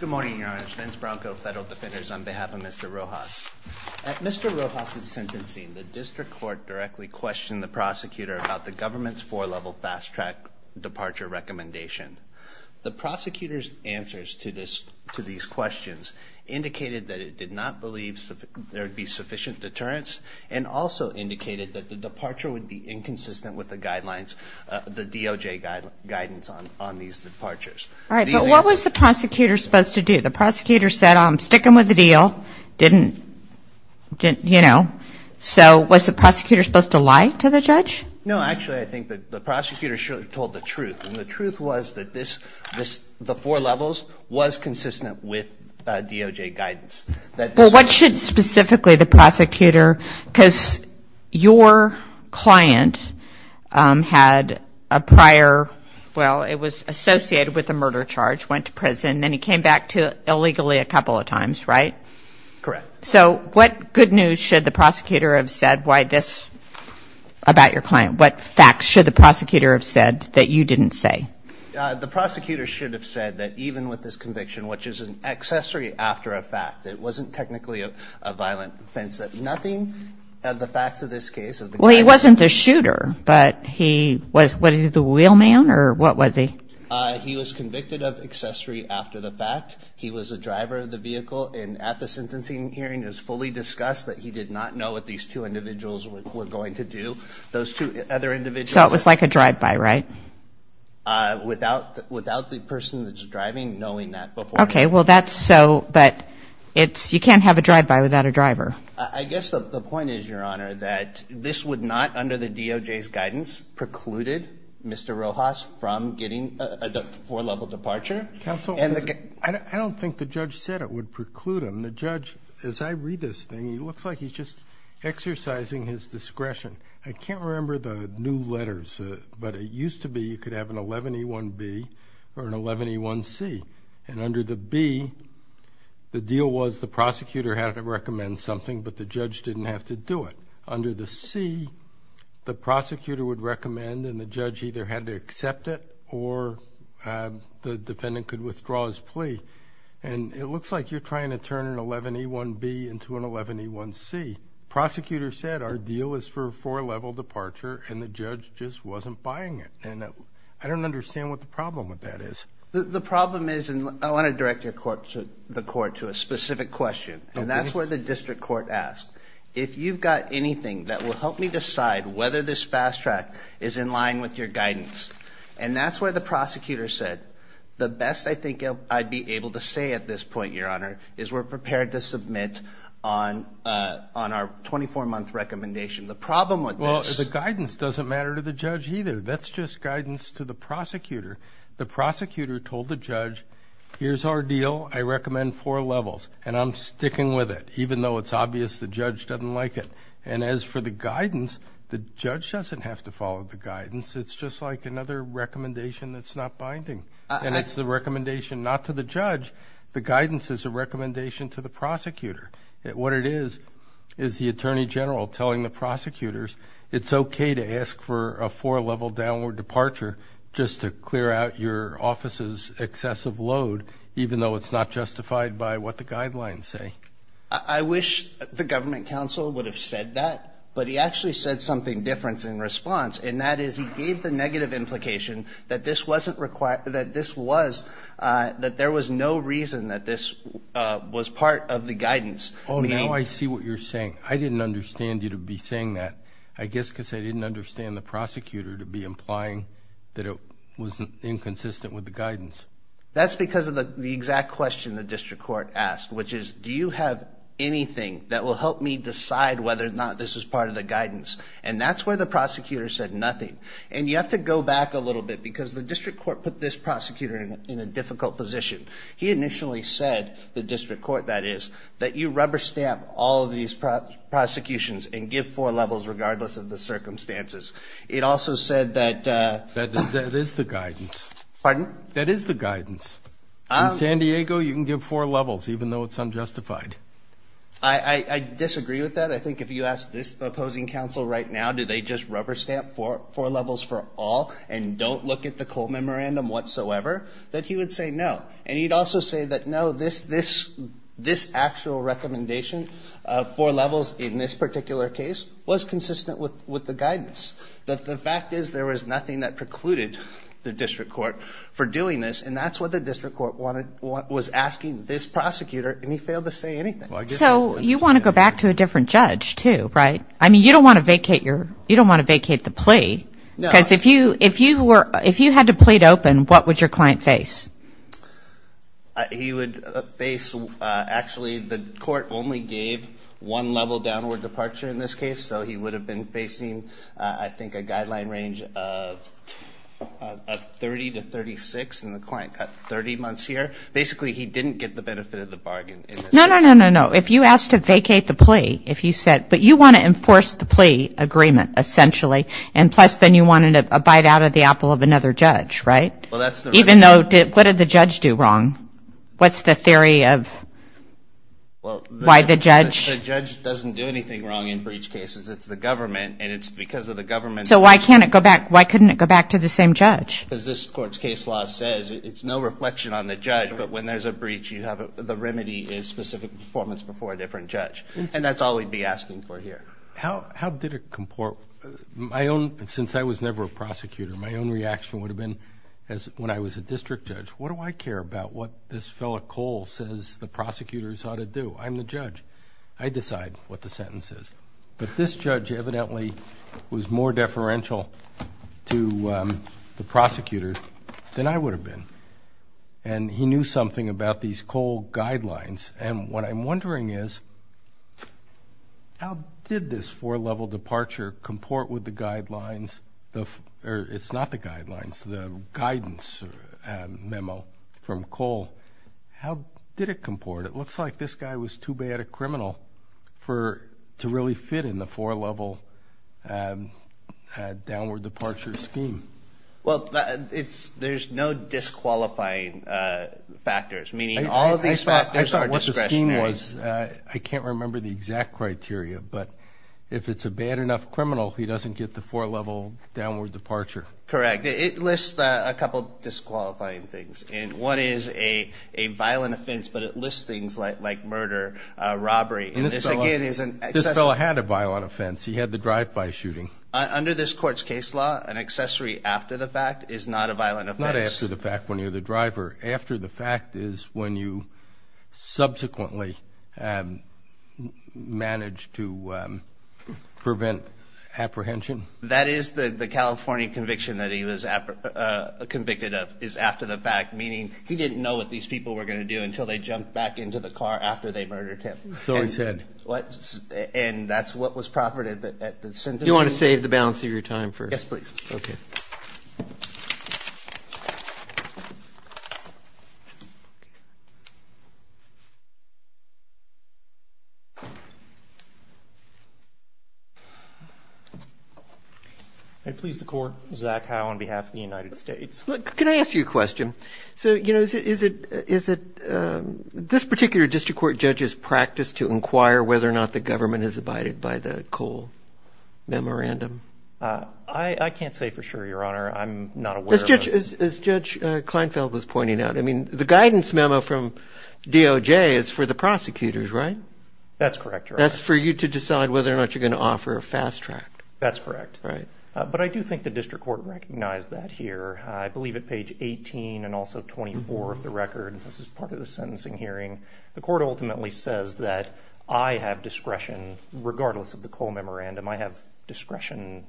Good morning, Your Honor. Vince Branco, Federal Defenders, on behalf of Mr. Rojas. At Mr. Rojas' sentencing, the District Court directly questioned the prosecutor about the government's four-level fast-track departure recommendation. The prosecutor's answers to these questions indicated that it did not believe there would be sufficient deterrence and also indicated that the departure would be inconsistent with the guidelines, the DOJ guidance on these departures. All right, but what was the prosecutor supposed to do? The prosecutor said, I'm sticking with the deal, didn't, you know, so was the prosecutor supposed to lie to the judge? No, actually, I think the prosecutor should have told the truth, and the truth was that the four levels was consistent with DOJ guidance. Well, what should specifically the prosecutor, because your client had a prior, well, it was associated with a murder charge, went to prison, then he came back illegally a couple of times, right? Correct. So what good news should the prosecutor have said about your client? What facts should the prosecutor have said that you didn't say? The prosecutor should have said that even with this conviction, which is an accessory after a fact, it wasn't technically a violent offense, that nothing of the facts of this case... Well, he wasn't the shooter, but he was, was he the wheelman, or what was he? He was convicted of accessory after the fact. He was the driver of the vehicle, and at the sentencing hearing, it was fully discussed that he did not know what these two individuals were going to do. Those two other individuals... So it was like a drive-by, right? Without the person that's driving knowing that beforehand. Okay, well, that's so, but it's, you can't have a drive-by without a driver. I guess the point is, Your Honor, that this would not, under the DOJ's guidance, precluded Mr. Rojas from getting a four-level departure. Counsel, I don't think the judge said it would preclude him. The judge, as I read this thing, he looks like he's just exercising his discretion. I can't remember the new letters, but it used to be you could have an 11A1B or an 11A1C, and under the B, the deal was the prosecutor had to recommend something, but the judge didn't have to do it. Under the C, the prosecutor would recommend, and the judge either had to accept it, or the defendant could withdraw his plea, and it looks like you're trying to turn an 11A1B into an 11A1C. Prosecutor said our deal is for a four-level departure, and the judge just wasn't buying it, and I don't understand what the problem with that is. The problem is, and I want to direct the court to a specific question, and that's where the district court asked, if you've got anything that will help me decide whether this fast track is in line with your guidance, and that's where the prosecutor said, the best I think I'd be able to say at this point, Your Honor, is we're prepared to submit on our 24-month recommendation. The problem with this... Well, the guidance doesn't matter to the judge either. That's just guidance to the prosecutor. The prosecutor told the judge, here's our deal. I recommend four levels, and I'm sticking with it, even though it's obvious the judge doesn't like it. And as for the guidance, the judge doesn't have to follow the guidance. It's just like another recommendation that's not binding, and it's the recommendation not to the judge. The guidance is a recommendation to the prosecutor. What it is, is the attorney general telling the prosecutors, it's okay to ask for a four-level downward departure just to clear out your office's excessive load, even though it's not justified by what the guidelines say. I wish the government counsel would have said that, but he actually said something different in response, and that is he gave the negative implication that this wasn't required, that this was, that there was no reason that this was part of the guidance. Oh, now I see what you're saying. I didn't understand you to be saying that. I guess because I didn't understand the prosecutor to be implying that it was inconsistent with the guidance. That's because of the exact question the district court asked, which is, do you have anything that will help me decide whether or not this is part of the guidance? And that's where the prosecutor said nothing. And you have to go back a little bit, because the district court put this prosecutor in a difficult position. He initially said, the district court, that is, that you rubber stamp all of these prosecutions and give four levels regardless of the circumstances. It also said that... That is the guidance. Pardon? That is the guidance. In San Diego, you can give four levels, even though it's unjustified. I disagree with that. I think if you ask this opposing counsel right now, do they just rubber stamp four levels for all and don't look at the cold memorandum whatsoever, that he would say no. And he'd also say that, no, this actual recommendation of four levels in this particular case was consistent with the guidance. The fact is, there was nothing that precluded the district court for doing this, and that's what the district court was asking this prosecutor, and he failed to say anything. So you want to go back to a different judge, too, right? I mean, you don't want to vacate the plea, because if you were, if you had to plead open, what would your client face? He would face, actually, the court only gave one level downward departure in this case, so he would have been facing, I think, a guideline range of 30 to 36, and the client got 30 months here. Basically, he didn't get the benefit of the bargain in this case. No, no, no, no, no. If you asked to vacate the plea, if you said, but you want to enforce the plea agreement, essentially, and plus, then you wanted a bite out of the apple of another judge, right? Well, that's the remedy. Even though, what did the judge do wrong? What's the theory of why the judge? The judge doesn't do anything wrong in breach cases. It's the government, and it's because of the government. So why can't it go back, why couldn't it go back to the same judge? Because this court's case law says it's no reflection on the judge, but when there's a breach, you have, the remedy is specific performance before a different judge. And that's all we'd be asking for here. How did it comport? Since I was never a prosecutor, my own reaction would have been, when I was a district judge, what do I care about what this fellow Cole says the prosecutors ought to do? I'm the judge. I decide what the sentence is. But this judge evidently was more deferential to the prosecutor than I would have been, and he knew something about these Cole guidelines. And what I'm wondering is, how did this four-level departure comport with the guidelines, or it's not the guidelines, the guidance memo from Cole? How did it comport? It looks like this guy was too bad a criminal to really fit in the four-level downward departure scheme. Well, there's no disqualifying factors, meaning all of these factors are discretionary. I thought what the scheme was, I can't remember the exact criteria, but if it's a bad enough criminal, he doesn't get the four-level downward departure. Correct. It lists a couple disqualifying things, and one is a violent offense, but it lists things like murder, robbery, and this, again, is an accessory. This fellow had a violent offense. He had the drive-by shooting. Under this court's case law, an accessory after the fact is not a violent offense. Not after the fact when you're the driver. After the fact is when you subsequently manage to prevent apprehension. That is the California conviction that he was convicted of, is after the fact, meaning he didn't know what these people were going to do until they jumped back into the car after they murdered him. So he said. And that's what was proffered at the sentence. Do you want to save the balance of your time for. Yes, please. Okay. I please the court. Zach Howe on behalf of the United States. Look, can I ask you a question? So, you know, is it, is it, is it, this particular district court judges practice to inquire whether or not the government is abided by the Cole memorandum? I can't say for sure, your honor. I'm not aware. As Judge Kleinfeld was pointing out, I mean, the guidance memo from DOJ is for the prosecutors, right? That's correct. That's for you to decide whether or not you're going to offer a fast track. That's correct. Right. But I do think the district court recognized that here. I believe at page 18 and also 24 of the record, this is part of the sentencing hearing. The court ultimately says that I have discretion, regardless of the Cole memorandum, I have discretion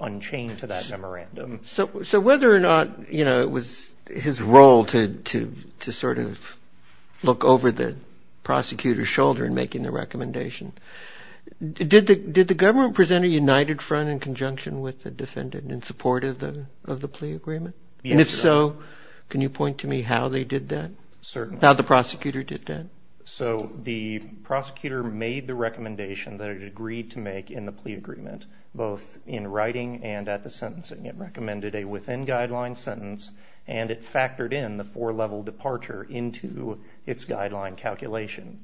unchained to that memorandum. So whether or not, you know, it was his role to, to, to sort of look over the prosecutor's shoulder and making the recommendation, did the, did the government present a united front in conjunction with the defendant in support of the, of the plea agreement? And if so, can you point to me how they did that? Certainly. How the prosecutor did that? So the prosecutor made the recommendation that it agreed to make in the plea agreement, both in writing and at the sentencing. It recommended a within guideline sentence and it factored in the four level departure into its guideline calculation.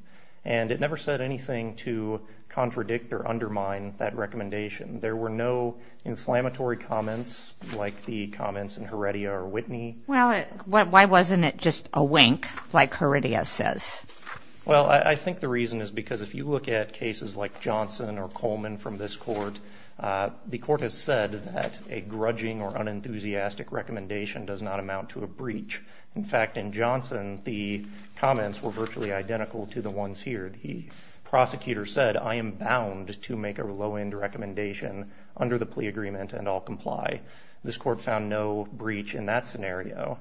And it never said anything to contradict or undermine that recommendation. There were no inflammatory comments like the comments in Heredia or Whitney. Well, why wasn't it just a wink like Heredia says? Well, I think the reason is because if you look at cases like Johnson or Coleman from this court, the court has said that a grudging or unenthusiastic recommendation does not amount to a breach. In fact, in Johnson, the comments were virtually identical to the ones here. The prosecutor said, I am bound to make a low-end recommendation under the plea agreement and I'll comply. This court found no breach in that scenario.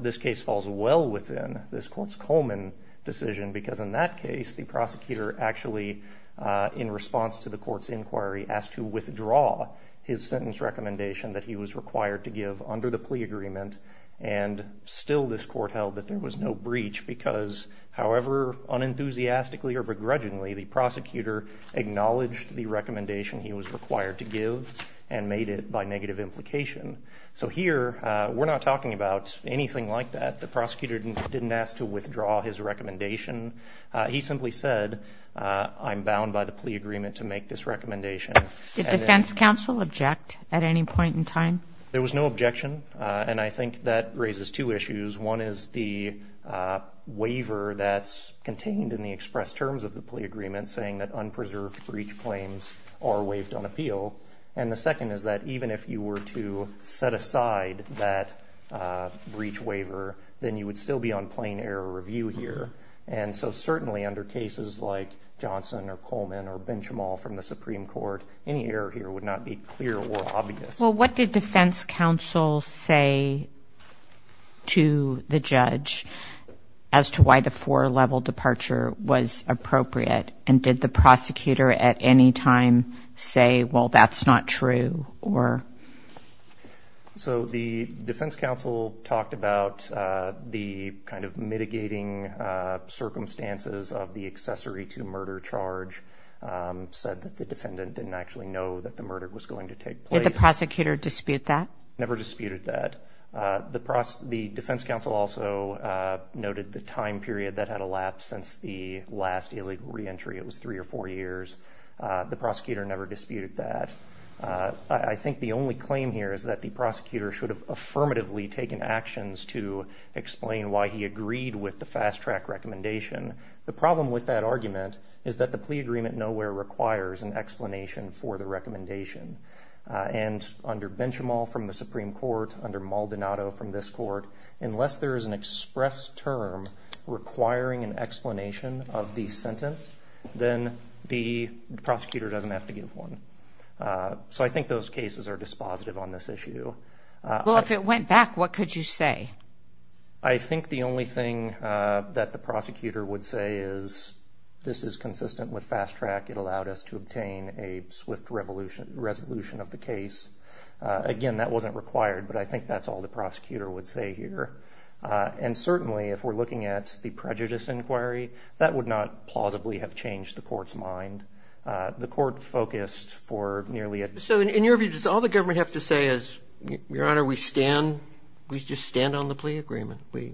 This case falls well within this court's Coleman decision because in that case, the prosecutor actually, in response to the court's inquiry, asked to withdraw his sentence recommendation that he was required to give under the plea agreement. And still this court held that there was no breach because however unenthusiastically or begrudgingly, the prosecutor acknowledged the recommendation he was required to give and made it by negative implication. So here, we're not talking about anything like that. The prosecutor didn't ask to withdraw his recommendation. He simply said, I'm bound by the plea agreement to make this recommendation. Did defense counsel object at any point in time? There was no objection. And I think that raises two issues. One is the waiver that's contained in the express terms of the plea agreement saying that unpreserved breach claims are waived on appeal. And the second is that even if you were to set aside that breach waiver, then you would still be on plain error review here. And so certainly under cases like Johnson or Coleman or Benchamal from the Supreme Court, any error here would not be clear or obvious. Well, what did defense counsel say to the judge as to why the four-level departure was appropriate? And did the prosecutor at any time say, well, that's not true or? So the defense counsel talked about the kind of mitigating circumstances of the accessory to murder charge, said that the defendant didn't actually know that the murder was going to take place. Did the prosecutor dispute that? Never disputed that. The defense counsel also noted the time period that had elapsed since the last illegal reentry. It was three or four years. The prosecutor never disputed that. I think the only claim here is that the prosecutor should have affirmatively taken actions to explain why he agreed with the fast-track recommendation. The problem with that argument is that the plea agreement nowhere requires an explanation for the recommendation. And under Benchamal from the Supreme Court, under Maldonado from this court, unless there is an express term requiring an explanation of the sentence, then the prosecutor doesn't have to give one. So I think those cases are dispositive on this issue. Well, if it went back, what could you say? I think the only thing that the prosecutor would say is this is consistent with fast-track. It allowed us to obtain a swift resolution of the case. Again, that wasn't required, but I think that's all the prosecutor would say here. And certainly, if we're looking at the prejudice inquiry, that would not plausibly have changed the court's mind. The court focused for nearly a... So in your view, does all the government have to say is, Your Honor, we stand, we just stand on the plea agreement. We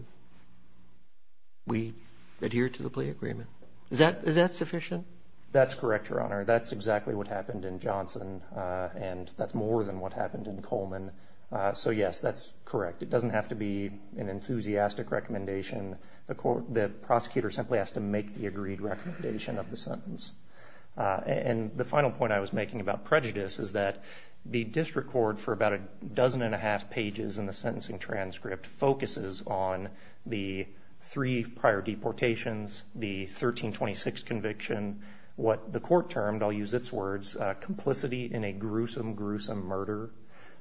adhere to the plea agreement. Is that sufficient? That's correct, Your Honor. That's exactly what happened in Johnson, and that's more than what happened in Coleman. So yes, that's correct. It doesn't have to be an enthusiastic recommendation. The prosecutor simply has to make the agreed recommendation of the sentence. And the final point I was making about prejudice is that the district court, for about a dozen and a half pages in the sentencing transcript, focuses on the three prior deportations, the court termed, I'll use its words, complicity in a gruesome, gruesome murder,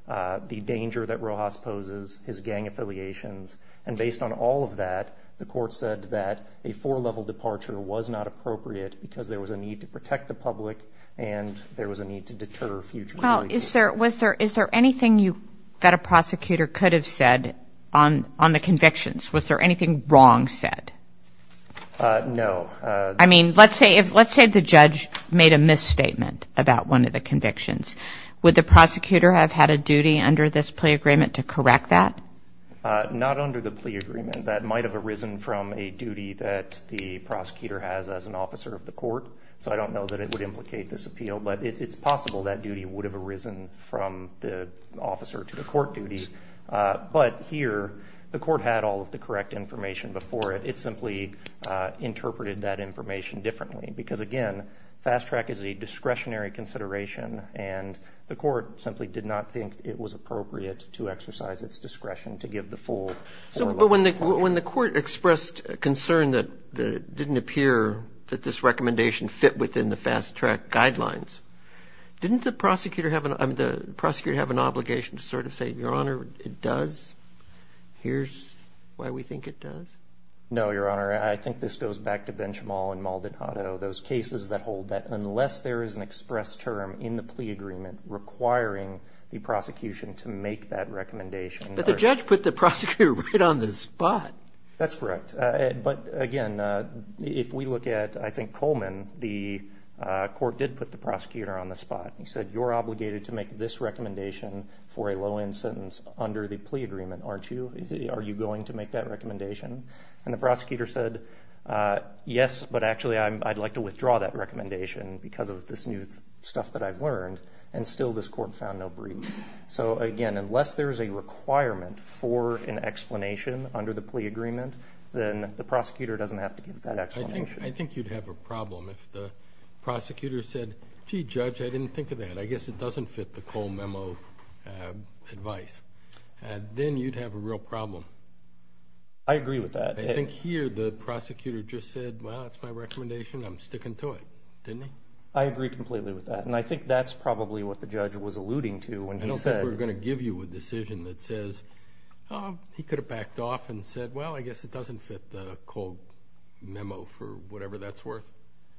the danger that Rojas poses, his gang affiliations. And based on all of that, the court said that a four-level departure was not appropriate because there was a need to protect the public, and there was a need to deter future... Well, is there anything that a prosecutor could have said on the convictions? Was there anything wrong said? No. I mean, let's say the judge made a misstatement about one of the convictions. Would the prosecutor have had a duty under this plea agreement to correct that? Not under the plea agreement. That might have arisen from a duty that the prosecutor has as an officer of the court. So I don't know that it would implicate this appeal, but it's possible that duty would have arisen from the officer to the court duty. But here, the court had all of the correct information before it. It simply interpreted that information differently because, again, fast track is a discretionary consideration, and the court simply did not think it was appropriate to exercise its discretion to give the full four-level departure. When the court expressed concern that it didn't appear that this recommendation fit within the fast track guidelines, didn't the prosecutor have an obligation to sort of say, Your Honor, it does? Here's why we think it does. No, Your Honor. I think this goes back to Benchamal and Maldonado, those cases that hold that unless there is an express term in the plea agreement requiring the prosecution to make that recommendation. But the judge put the prosecutor right on the spot. That's correct. But, again, if we look at, I think, Coleman, the court did put the prosecutor on the spot. He said, You're obligated to make this recommendation for a low-end sentence under the plea agreement, aren't you? Are you going to make that recommendation? And the prosecutor said, Yes, but actually I'd like to withdraw that recommendation because of this new stuff that I've learned. And still this court found no breach. So, again, unless there is a requirement for an explanation under the plea agreement, then the prosecutor doesn't have to give that explanation. I think you'd have a problem if the prosecutor said, Gee, Judge, I didn't think of that. I guess it doesn't fit the Cole memo advice. Then you'd have a real problem. I agree with that. I think here the prosecutor just said, Well, that's my recommendation. I'm sticking to it, didn't he? I agree completely with that. And I think that's probably what the judge was alluding to when he said- I don't think we're going to give you a decision that says, Oh, he could have backed off and said, Well, I guess it doesn't fit the Cole memo for whatever that's worth.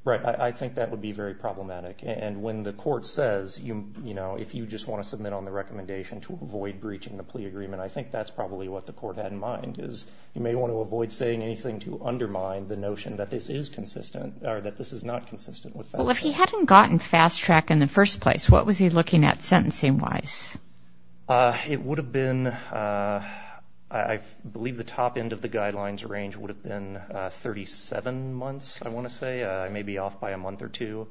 Right. I think that would be very problematic. And when the court says, You know, if you just want to submit on the recommendation to avoid breaching the plea agreement, I think that's probably what the court had in mind is you may want to avoid saying anything to undermine the notion that this is consistent or that this is not consistent with- Well, if he hadn't gotten fast track in the first place, what was he looking at sentencing-wise? It would have been- I believe the top end of the guidelines range would have been 37 months, I want to say, maybe off by a month or two.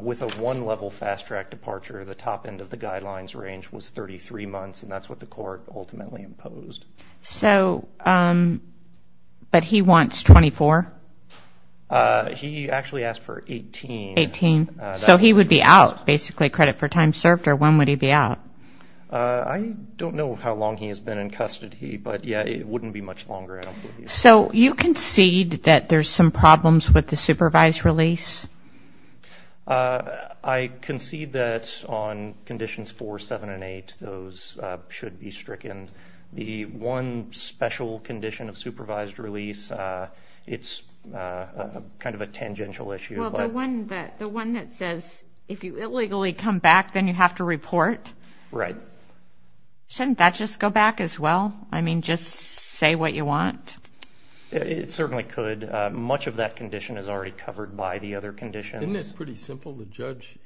With a one level fast track departure, the top end of the guidelines range was 33 months and that's what the court ultimately imposed. But he wants 24? He actually asked for 18. 18. So he would be out basically credit for time served or when would he be out? I don't know how long he has been in custody, but yeah, it wouldn't be much longer. So you concede that there's some problems with the supervised release? I concede that on Conditions 4, 7, and 8, those should be stricken. The one special condition of supervised release, it's kind of a tangential issue. Well, the one that says if you illegally come back, then you have to report? Right. Shouldn't that just go back as well? I mean, just say what you want? It certainly could. Much of that condition is already covered by the other conditions. Isn't it pretty simple? The judge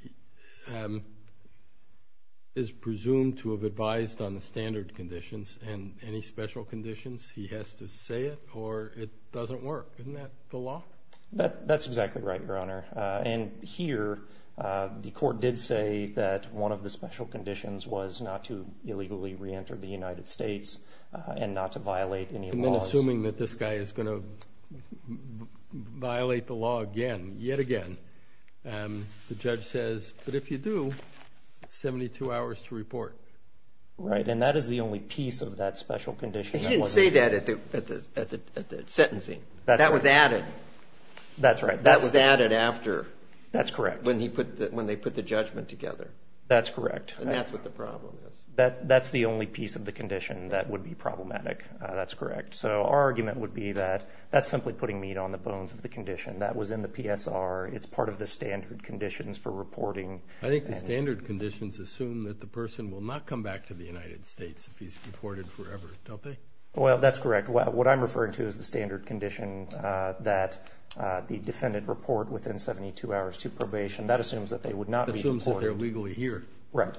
is presumed to have advised on the standard conditions and any special conditions, he has to say it or it doesn't work. Isn't that the law? That's exactly right, Your Honor. And here, the court did say that one of the special conditions was not to illegally re-enter the United States and not to violate any laws. And then assuming that this guy is going to violate the law again, yet again, the judge says, but if you do, 72 hours to report. Right, and that is the only piece of that special condition. He didn't say that at the sentencing. That was added. That's right. That was added after. That's correct. When they put the judgment together. That's correct. And that's what the problem is. That's the only piece of the condition that would be problematic. That's correct. So our argument would be that that's simply putting meat on the bones of the condition. That was in the PSR. It's part of the standard conditions for reporting. I think the standard conditions assume that the person will not come back to the United States if he's reported forever, don't they? Well, that's correct. What I'm referring to is the standard condition that the defendant report within 72 hours to probation. That assumes that they would not be reported. Assumes that they're legally here. Right.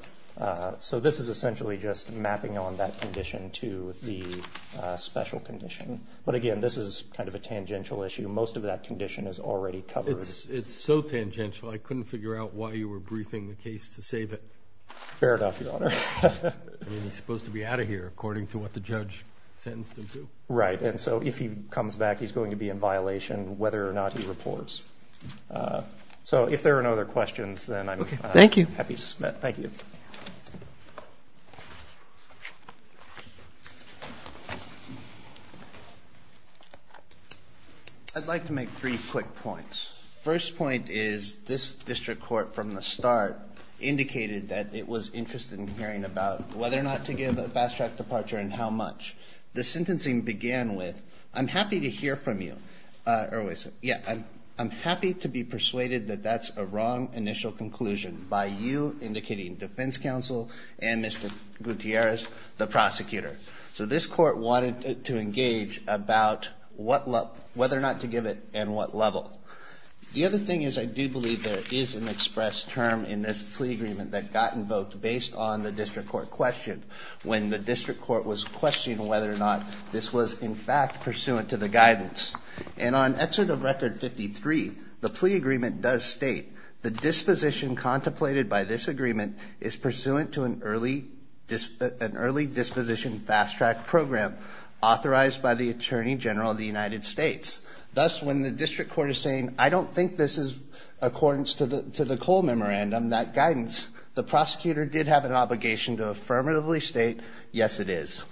So this is essentially just mapping on that condition to the special condition. But again, this is kind of a tangential issue. Most of that condition is already covered. It's so tangential. I couldn't figure out why you were briefing the case to save it. Fair enough, Your Honor. I mean, he's supposed to be out of here according to what the judge sentenced him to. Right. And so if he comes back, he's going to be in violation whether or not he reports. So if there are no other questions, then I'm happy to submit. Thank you. I'd like to make three quick points. First point is this district court from the start indicated that it was interested in hearing about whether or not to give a fast track departure and how much. The sentencing began with, I'm happy to hear from you. Or wait a second. Yeah, I'm happy to be persuaded that that's a wrong initial conclusion by you indicating defense counsel and Mr. Gutierrez, the prosecutor. So this court wanted to engage about whether or not to give it and what level. The other thing is I do believe there is an express term in this plea agreement that got invoked based on the district court question. When the district court was questioning whether or not this was in fact pursuant to the guidance. And on exit of record 53, the plea agreement does state the disposition contemplated by this agreement is pursuant to an early disposition fast track program authorized by the attorney general of the United States. Thus when the district court is saying, I don't think this is accordance to the, to the Cole memorandum, that guidance, the prosecutor did have an obligation to affirmatively state. Yes, it is.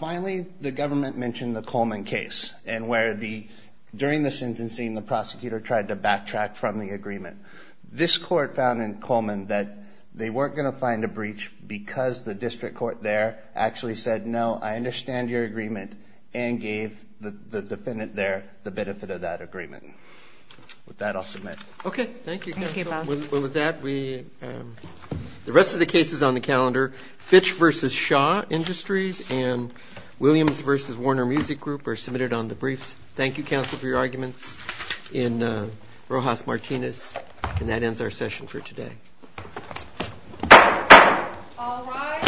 Finally, the government mentioned the Coleman case and where the, during the sentencing, the prosecutor tried to backtrack from the agreement. This court found in Coleman that they weren't going to find a breach because the district court there actually said, no, I understand your agreement and gave the defendant there the benefit of that agreement. With that I'll submit. Okay. Thank you. Well, with that, we, um, the rest of the cases on the calendar, Fitch versus Shaw Industries and Williams versus Warner Music Group are submitted on the briefs. Thank you counsel for your arguments in, uh, Rojas Martinez and that ends our session for today. All rise. Thank you.